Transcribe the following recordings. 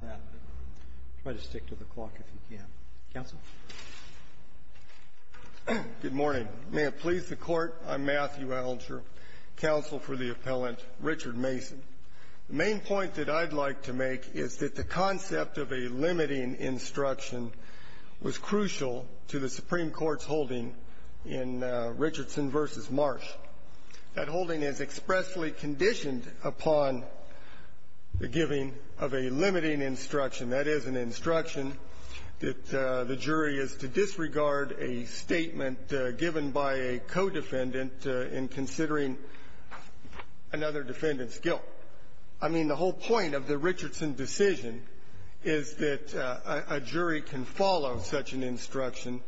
Good morning. May it please the Court, I'm Matthew Allinger, counsel for the appellant Richard Mason. The main point that I'd like to make is that the concept of a limiting instruction was crucial to the Supreme Court's holding in Richardson v. Marsh. That holding is expressly conditioned upon the giving of a limiting instruction. That is an instruction that the jury is to disregard a statement given by a co-defendant in considering another defendant's guilt. I mean, the whole point of the Richardson decision is that a jury can follow such an instruction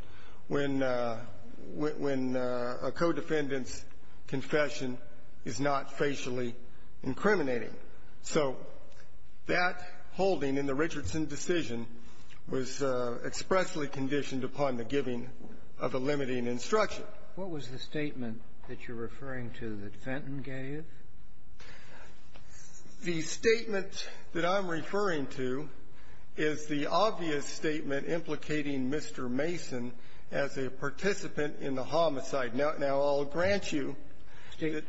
when a co-defendant's confession is not facially incriminating. So that holding in the Richardson decision was expressly conditioned upon the giving of a limiting instruction. What was the statement that you're referring to that Fenton gave? The statement that I'm referring to is the obvious statement implicating Mr. Mason as a participant in the homicide. Now, I'll grant you that the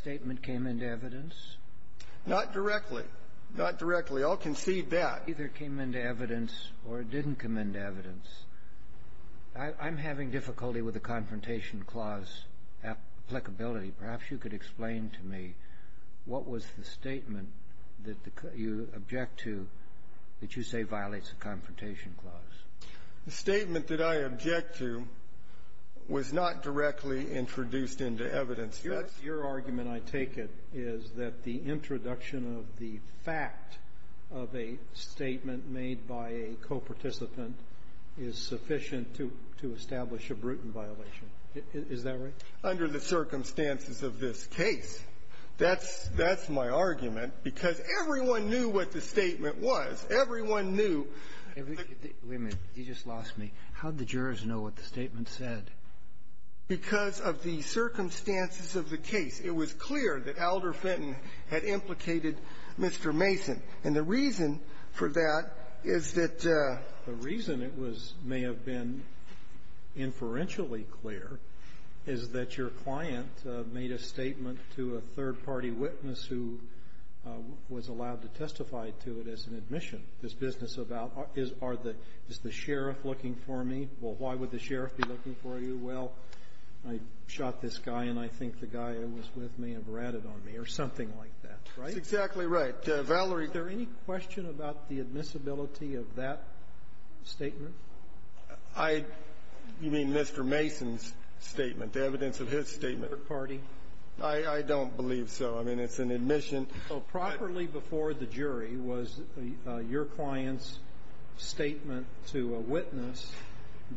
statement came into evidence. Not directly. Not directly. I'll concede that. It either came into evidence or it didn't come into evidence. I'm having difficulty with the Confrontation Clause applicability. Perhaps you could explain to me what was the statement that you object to that you say violates the Confrontation Clause. The statement that I object to was not directly introduced into evidence. That's your argument, I take it, is that the introduction of the fact of a statement made by a co-participant is sufficient to establish a brutal violation. Is that right? Under the circumstances of this case. That's my argument, because everyone knew what the statement was. Everyone knew. Wait a minute. You just lost me. How did the jurors know what the statement said? Because of the circumstances of the case. It was clear that Alder Fenton had implicated Mr. Mason. And the reason for that is that the reason it was may have been inferentially clear is that your client made a statement to a third-party witness who was allowed to testify to it as an admission. This business about is the sheriff looking for me? Well, why would the sheriff be looking for you? Well, I shot this guy, and I think the guy I was with may have ratted on me or something like that, right? That's exactly right. But, Valerie — Is there any question about the admissibility of that statement? I — you mean Mr. Mason's statement, the evidence of his statement? Third-party. I don't believe so. I mean, it's an admission. So properly before the jury was your client's statement to a witness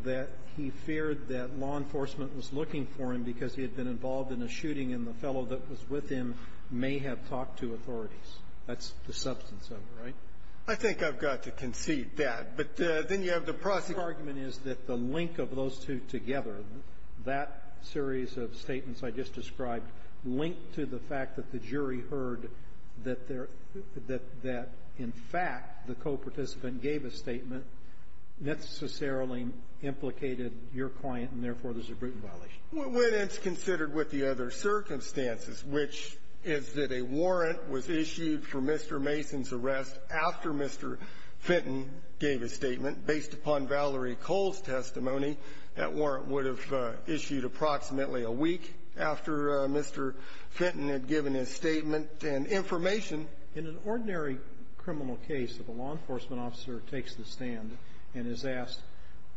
that he feared that law enforcement was looking for him because he had been involved in a shooting and the fellow that was with him may have talked to authorities. That's the substance of it, right? I think I've got to concede that. But then you have the prosecutor — Your argument is that the link of those two together, that series of statements I just described, linked to the fact that the jury heard that there — that in fact, the coparticipant gave a statement necessarily implicated your client, and therefore, there's a brutal violation. When it's considered with the other circumstances, which is that a warrant was issued for Mr. Mason's arrest after Mr. Fenton gave a statement based upon Valerie Cole's testimony, that warrant would have issued approximately a week after Mr. Fenton had given his statement and information. In an ordinary criminal case, if a law enforcement officer takes the stand and is asked,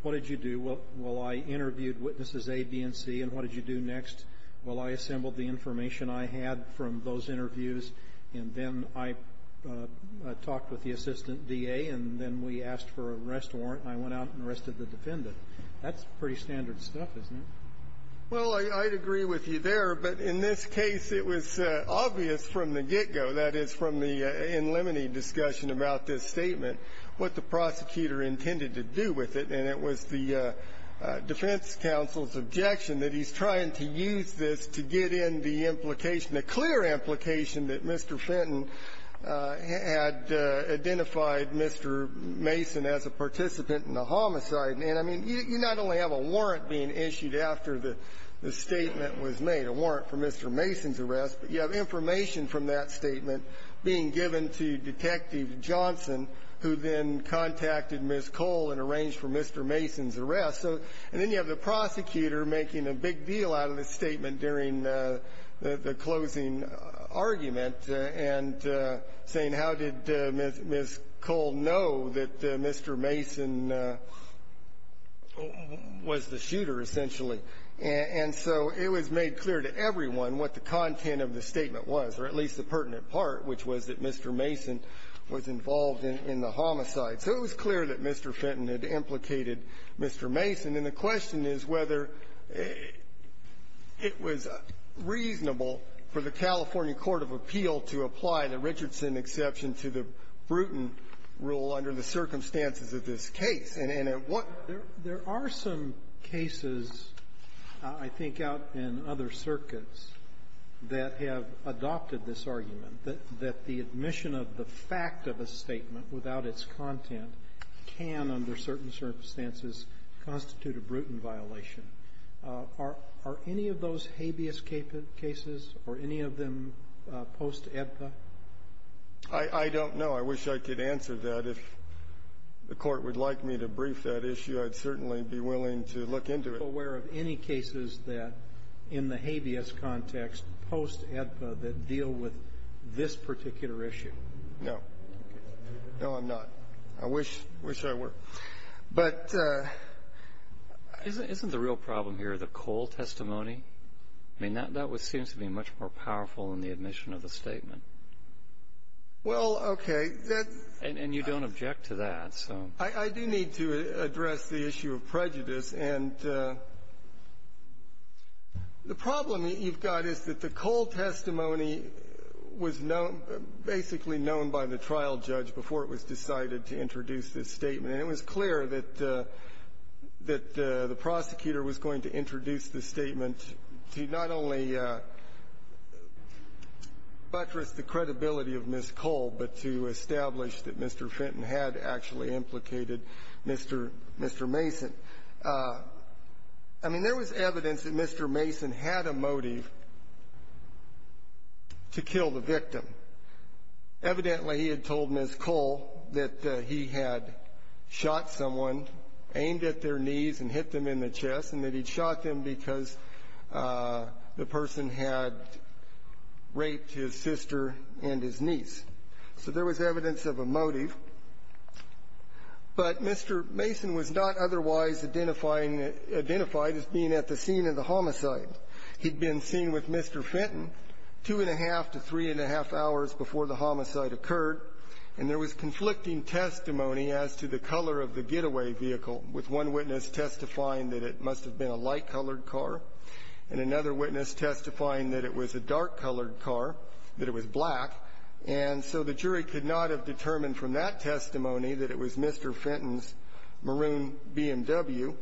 what did you do? Well, I interviewed witnesses A, B, and C. And what did you do next? Well, I assembled the information I had from those interviews, and then I talked with the assistant D.A., and then we asked for an arrest warrant, and I went out and arrested the defendant. That's pretty standard stuff, isn't it? Well, I'd agree with you there. But in this case, it was obvious from the get-go, that is, from the in limine discussion about this statement, what the prosecutor intended to do with it. And it was the defense counsel's objection that he's trying to use this to get in the implication, the clear implication, that Mr. Fenton had identified Mr. Mason as a participant in a homicide. And, I mean, you not only have a warrant being issued after the statement was made, a warrant for Mr. Mason's arrest, but you have information from that statement being given to Detective Johnson, who then contacted Ms. Cole and arranged for Mr. Mason's arrest. So, and then you have the prosecutor making a big deal out of the statement during the closing argument, and saying, how did Ms. Cole know that Mr. Mason was the shooter, essentially? And so it was made clear to everyone what the content of the statement was, or at least the most pertinent part, which was that Mr. Mason was involved in the homicide. So it was clear that Mr. Fenton had implicated Mr. Mason. And the question is whether it was reasonable for the California court of appeal to apply the Richardson exception to the Bruton rule under the circumstances of this case. And at what – cases, I think, out in other circuits that have adopted this argument, that the admission of the fact of a statement without its content can, under certain circumstances, constitute a Bruton violation. Are any of those habeas cases, or any of them post-EDPA? I don't know. I wish I could answer that. If the court would like me to brief that issue, I'd certainly be willing to look into it. Are you aware of any cases that, in the habeas context, post-EDPA, that deal with this particular issue? No. No, I'm not. I wish I were. But… Isn't the real problem here the Cole testimony? I mean, that seems to be much more powerful than the admission of the statement. Well, okay. And you don't object to that, so. I do need to address the issue of prejudice. And the problem that you've got is that the Cole testimony was known – basically known by the trial judge before it was decided to introduce this statement. And it was clear that the prosecutor was going to introduce the statement to not only buttress the credibility of Ms. Cole, but to establish that Mr. Fenton had actually implicated Mr. Mason. I mean, there was evidence that Mr. Mason had a motive to kill the victim. Evidently, he had told Ms. Cole that he had shot someone, aimed at their knees and hit them in the chest, and that he'd shot them because the person had raped his sister and his niece. So there was evidence of a motive. But Mr. Mason was not otherwise identifying – identified as being at the scene of the homicide. He'd been seen with Mr. Fenton two-and-a-half to three-and-a-half hours before the homicide occurred, and there was conflicting testimony as to the color of the getaway vehicle, with one witness testifying that it must have been a light-colored car, and another witness testifying that it was a dark-colored car, that it was black. And so the jury could not have determined from that testimony that it was Mr. Fenton's maroon BMW.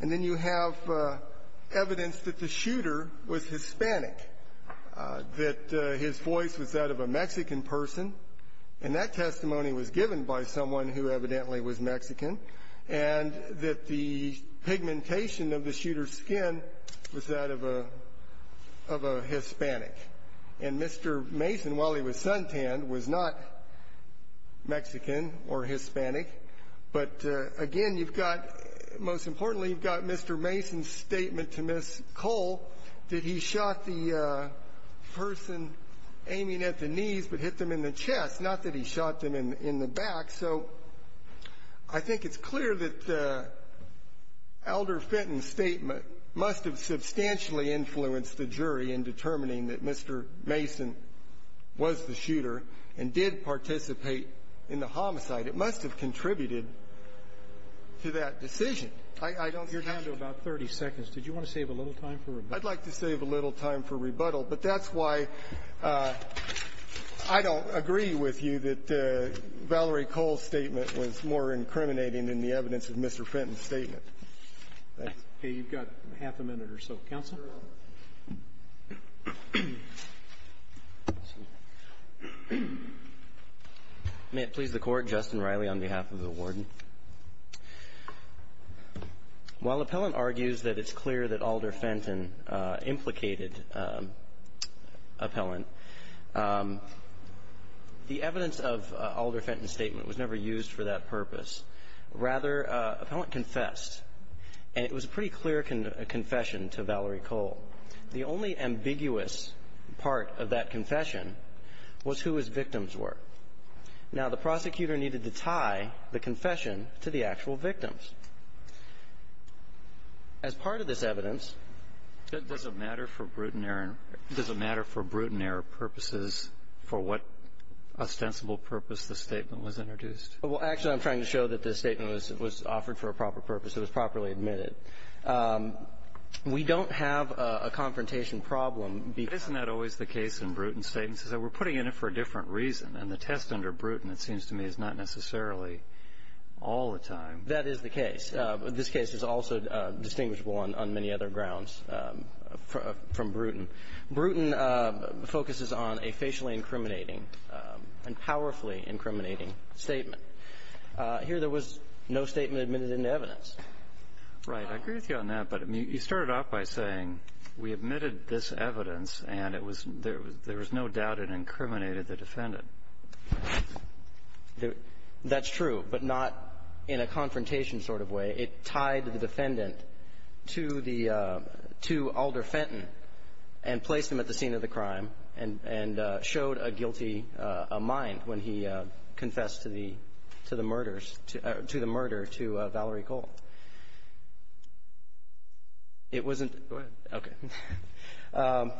And then you have evidence that the shooter was Hispanic, that his voice was that of a Mexican person, and that testimony was given by someone who evidently was Mexican. And that the pigmentation of the shooter's skin was that of a – of a Hispanic. And Mr. Mason, while he was suntanned, was not Mexican or Hispanic. But again, you've got – most importantly, you've got Mr. Mason's statement to Ms. Cole that he shot the person aiming at the knees but hit them in the chest, not that he shot them in the back. So I think it's clear that Elder Fenton's statement must have substantially influenced the jury in determining that Mr. Mason was the shooter and did participate in the homicide. It must have contributed to that decision. I don't hear now. You're down to about 30 seconds. Did you want to save a little time for rebuttal? I'd like to save a little time for rebuttal. But that's why I don't agree with you that Valerie Cole's statement was more incriminating than the evidence of Mr. Fenton's statement. Thanks. Okay. You've got half a minute or so. Counsel. May it please the Court. Justin Riley on behalf of the Warden. While Appellant argues that it's clear that Elder Fenton implicated Appellant, the evidence of Elder Fenton's statement was never used for that purpose. Rather, Appellant confessed, and it was a pretty clear confession to Valerie Cole. The only ambiguous part of that confession was who his victims were. Now, the prosecutor needed to tie the confession to the actual victims. As part of this evidence Does it matter for Bruton error purposes for what ostensible purpose the statement was introduced? Well, actually, I'm trying to show that this statement was offered for a proper purpose. It was properly admitted. We don't have a confrontation problem. Isn't that always the case in Bruton statements? We're putting in it for a different reason. And the test under Bruton, it seems to me, is not necessarily all the time. That is the case. This case is also distinguishable on many other grounds from Bruton. Bruton focuses on a facially incriminating and powerfully incriminating statement. Here there was no statement admitted into evidence. Right. I agree with you on that. But you started off by saying we admitted this evidence, and it was there was no doubt it incriminated the defendant. That's true, but not in a confrontation sort of way. It tied the defendant to the to Alder Fenton and placed him at the scene of the crime and and showed a guilty mind when he confessed to the to the murders to the murder to Valerie Cole. It wasn't. Okay. I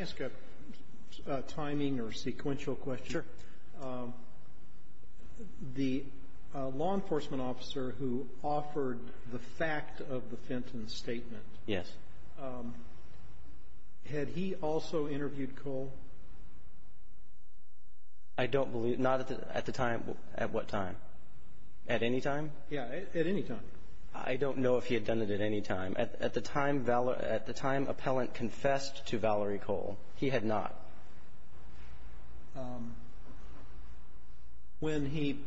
ask a timing or sequential question. The law enforcement officer who offered the fact of the Fenton statement. Yes. Had he also interviewed Cole? I don't believe not at the time. At what time? At any time? Yeah, at any time. I don't know if he had done it at any time. At the time, Appellant confessed to Valerie Cole. He had not. When he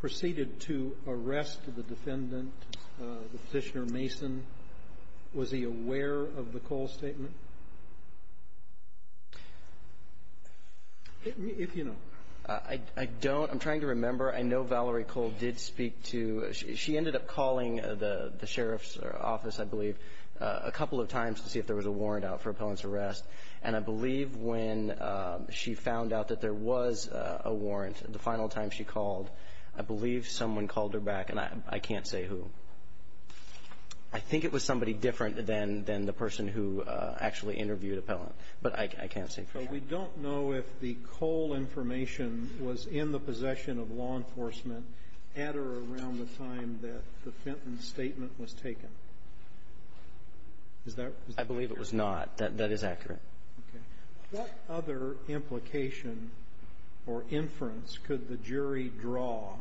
proceeded to arrest the defendant, the Petitioner Mason, was he aware of the Cole statement? If you know. I don't. I'm trying to remember. I know Valerie Cole did speak to, she ended up calling the sheriff's office, I believe, a couple of times to see if there was a warrant out for Appellant's arrest. And I believe when she found out that there was a warrant, the final time she called, I believe someone called her back. And I can't say who. I think it was somebody different than the person who actually interviewed Appellant, but I can't say for sure. So we don't know if the Cole information was in the possession of law enforcement at or around the time that the Fenton statement was taken. Is that clear? I believe it was not. That is accurate. Okay. What other implication or inference could the jury draw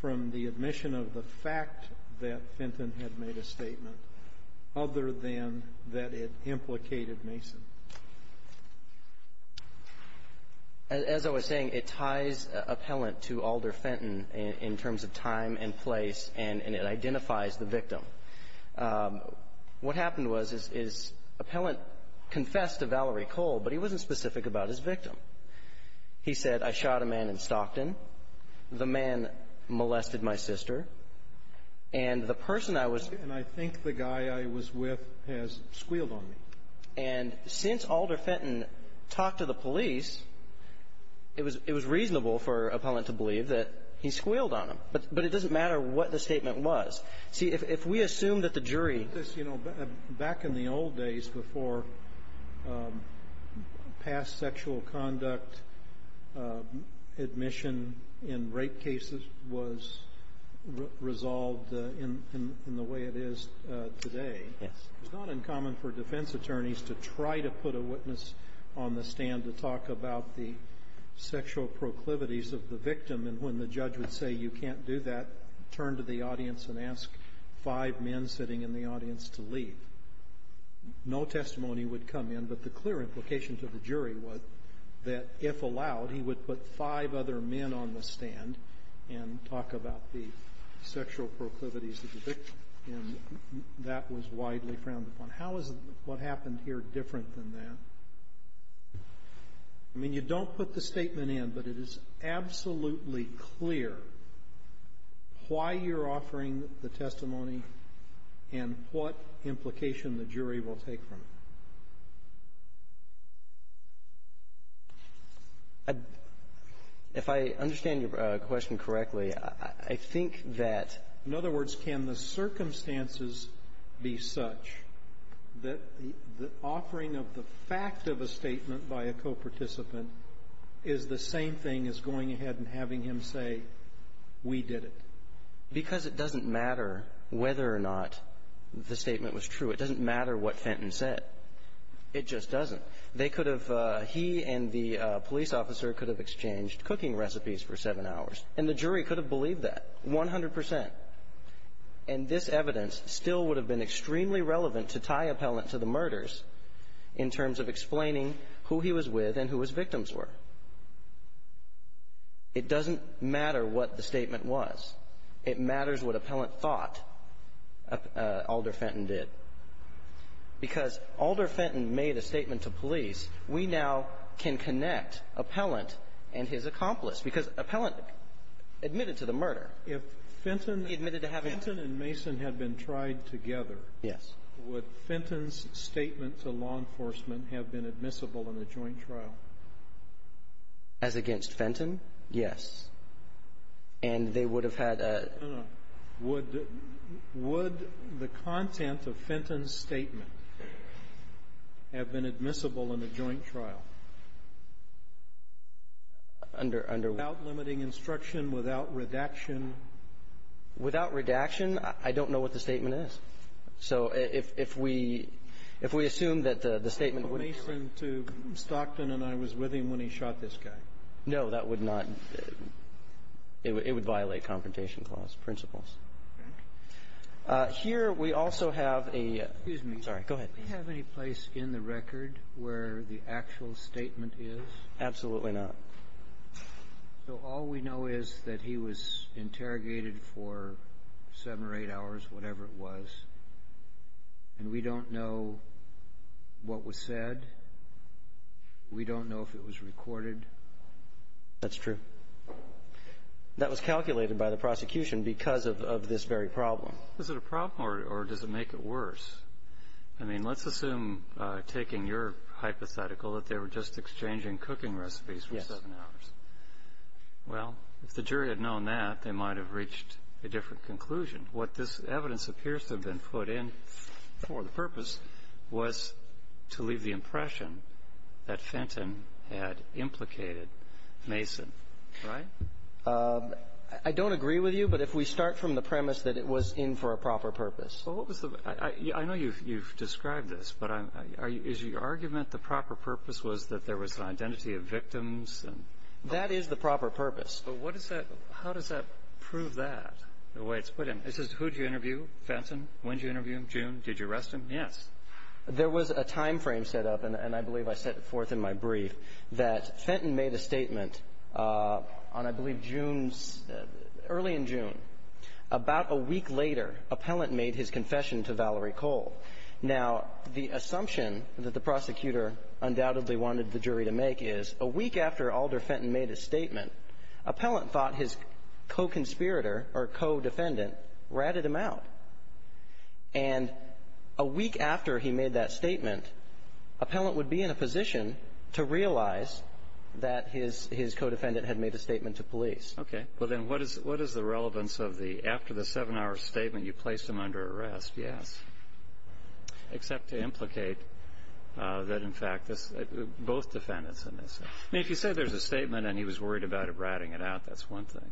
from the admission of the fact that Fenton had made a statement other than that it implicated Mason? As I was saying, it ties Appellant to Alder Fenton in terms of time and place, and it identifies the victim. What happened was, is Appellant confessed to Valerie Cole, but he wasn't specific about his victim. He said, I shot a man in Stockton. The man molested my sister. And the person I was ---- And I think the guy I was with has squealed on me. And since Alder Fenton talked to the police, it was reasonable for Appellant to believe that he squealed on him. But it doesn't matter what the statement was. See, if we assume that the jury ---- Back in the old days, before past sexual conduct admission in rape cases was resolved in the way it is today, it's not uncommon for defense attorneys to try to put a witness on the stand to talk about the sexual proclivities of the victim. And when the judge would say, you can't do that, turn to the audience and ask five men sitting in the audience to leave. No testimony would come in. But the clear implication to the jury was that, if allowed, he would put five other men on the stand and talk about the sexual proclivities of the victim. And that was widely frowned upon. How is what happened here different than that? I mean, you don't put the statement in, but it is absolutely clear why you're offering the testimony and what implication the jury will take from it. If I understand your question correctly, I think that ---- In other words, can the circumstances be such that the offering of the fact of a statement by a co-participant is the same thing as going ahead and having him say, we did it? Because it doesn't matter whether or not the statement was true. It doesn't matter what Fenton said. It just doesn't. They could have ---- he and the police officer could have exchanged cooking recipes for seven hours, and the jury could have believed that, 100 percent. And this evidence still would have been extremely relevant to tie Appellant to the murders in terms of explaining who he was with and who his victims were. It doesn't matter what the statement was. It matters what Appellant thought Alder Fenton did. Because Alder Fenton made a statement to police, we now can connect Appellant and his accomplice, because Appellant admitted to the murder. If Fenton and Mason had been tried together, would Fenton's statement to law enforcement have been admissible in a joint trial? As against Fenton? Yes. And they would have had a ---- Would the content of Fenton's statement have been admissible in a joint trial? Under what? Without limiting instruction, without redaction? Without redaction, I don't know what the statement is. So if we assume that the statement would be ---- What if Mason to Stockton and I was with him when he shot this guy? No, that would not ---- it would violate Confrontation Clause principles. Here we also have a ---- Excuse me. Sorry. Go ahead. Do we have any place in the record where the actual statement is? Absolutely not. So all we know is that he was interrogated for seven or eight hours, whatever it was, and we don't know what was said? We don't know if it was recorded? That's true. That was calculated by the prosecution because of this very problem. Is it a problem, or does it make it worse? I mean, let's assume, taking your hypothetical, that they were just exchanging cooking recipes for seven hours. Yes. Well, if the jury had known that, they might have reached a different conclusion. What this evidence appears to have been put in for the purpose was to leave the impression that Fenton had implicated Mason, right? I don't agree with you, but if we start from the premise that it was in for a proper purpose. I know you've described this, but is your argument the proper purpose was that there was an identity of victims? That is the proper purpose. But how does that prove that, the way it's put in? It says, who did you interview? Fenton? When did you interview him? June? Did you arrest him? Yes. There was a time frame set up, and I believe I set it forth in my brief, that Fenton made a statement on, I believe, early in June. About a week later, Appellant made his confession to Valerie Cole. Now, the assumption that the prosecutor undoubtedly wanted the jury to make is, a week after Alder Fenton made his statement, Appellant thought his co-conspirator or co-defendant ratted him out. And a week after he made that statement, Appellant would be in a position to realize that his co-defendant had made a statement to police. Okay. Well, then, what is the relevance of the, after the seven-hour statement, you placed him under arrest? Yes. Except to implicate that, in fact, both defendants in this. I mean, if you say there's a statement and he was worried about it ratting it out, that's one thing.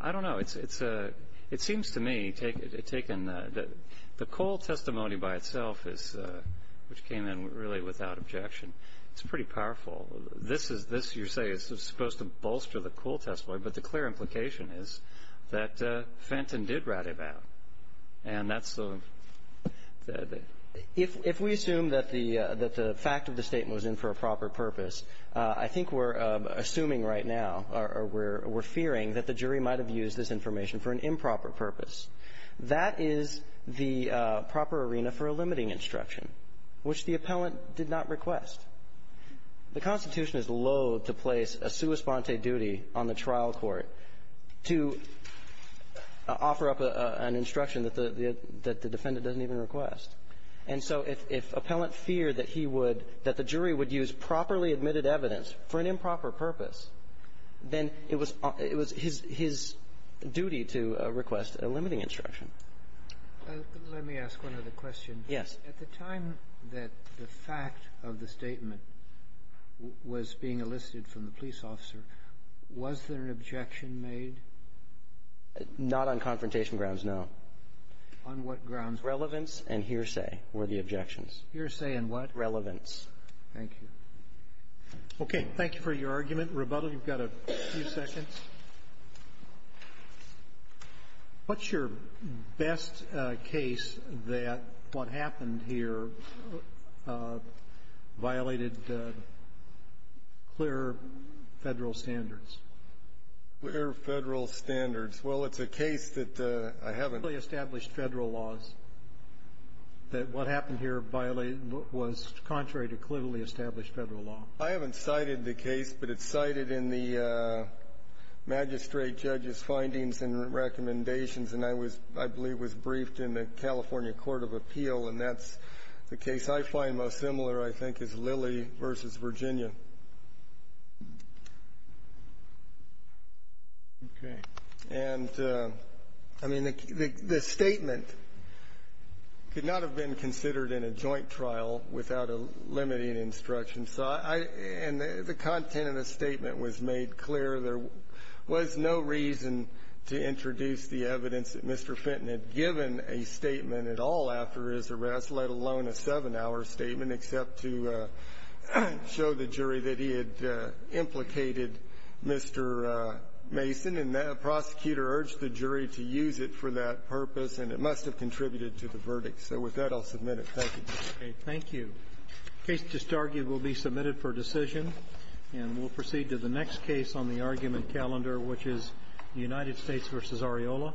I don't know. It seems to me, it's taken the Cole testimony by itself, which came in really without objection, it's pretty powerful. This is, this, you say, is supposed to bolster the Cole testimony, but the clear implication is that Fenton did rat it out. And that's the, that the If we assume that the fact of the statement was in for a proper purpose, I think we're assuming right now, or we're fearing that the jury might have used this information for an improper purpose. That is the proper arena for a limiting instruction, which the Appellant did not request. The Constitution is loathe to place a sua sponte duty on the trial court to offer up an instruction that the defendant doesn't even request. And so if Appellant feared that he would, that the jury would use properly admitted evidence for an improper purpose, then it was his duty to request a limiting instruction. Let me ask one other question. Yes. At the time that the fact of the statement was being elicited from the police officer, was there an objection made? Not on confrontation grounds, no. On what grounds? Relevance and hearsay were the objections. Hearsay and what? Relevance. Thank you. Okay. Thank you for your argument. Rebuttal, you've got a few seconds. What's your best case that what happened here violated clear Federal standards? Clear Federal standards. Well, it's a case that I haven't ---- Clearly established Federal laws, that what happened here violated what was contrary to clearly established Federal law. I haven't cited the case, but it's cited in the magistrate judge's findings and recommendations, and I was ---- I believe was briefed in the California Court of Appeal, and that's the case I find most similar, I think, is Lilly v. Virginia. Okay. And, I mean, the statement could not have been considered in a joint trial without a limiting instruction. So I ---- and the content of the statement was made clear. There was no reason to introduce the evidence that Mr. Fenton had given a statement at all after his arrest, let alone a seven-hour statement, except to show the jury that he had implicated Mr. Mason, and the prosecutor urged the jury to use it for that purpose, and it must have contributed to the verdict. So with that, I'll submit it. Thank you, Justice Scalia. Thank you. The case disargued will be submitted for decision, and we'll proceed to the next case on the argument calendar, which is United States v. Areola.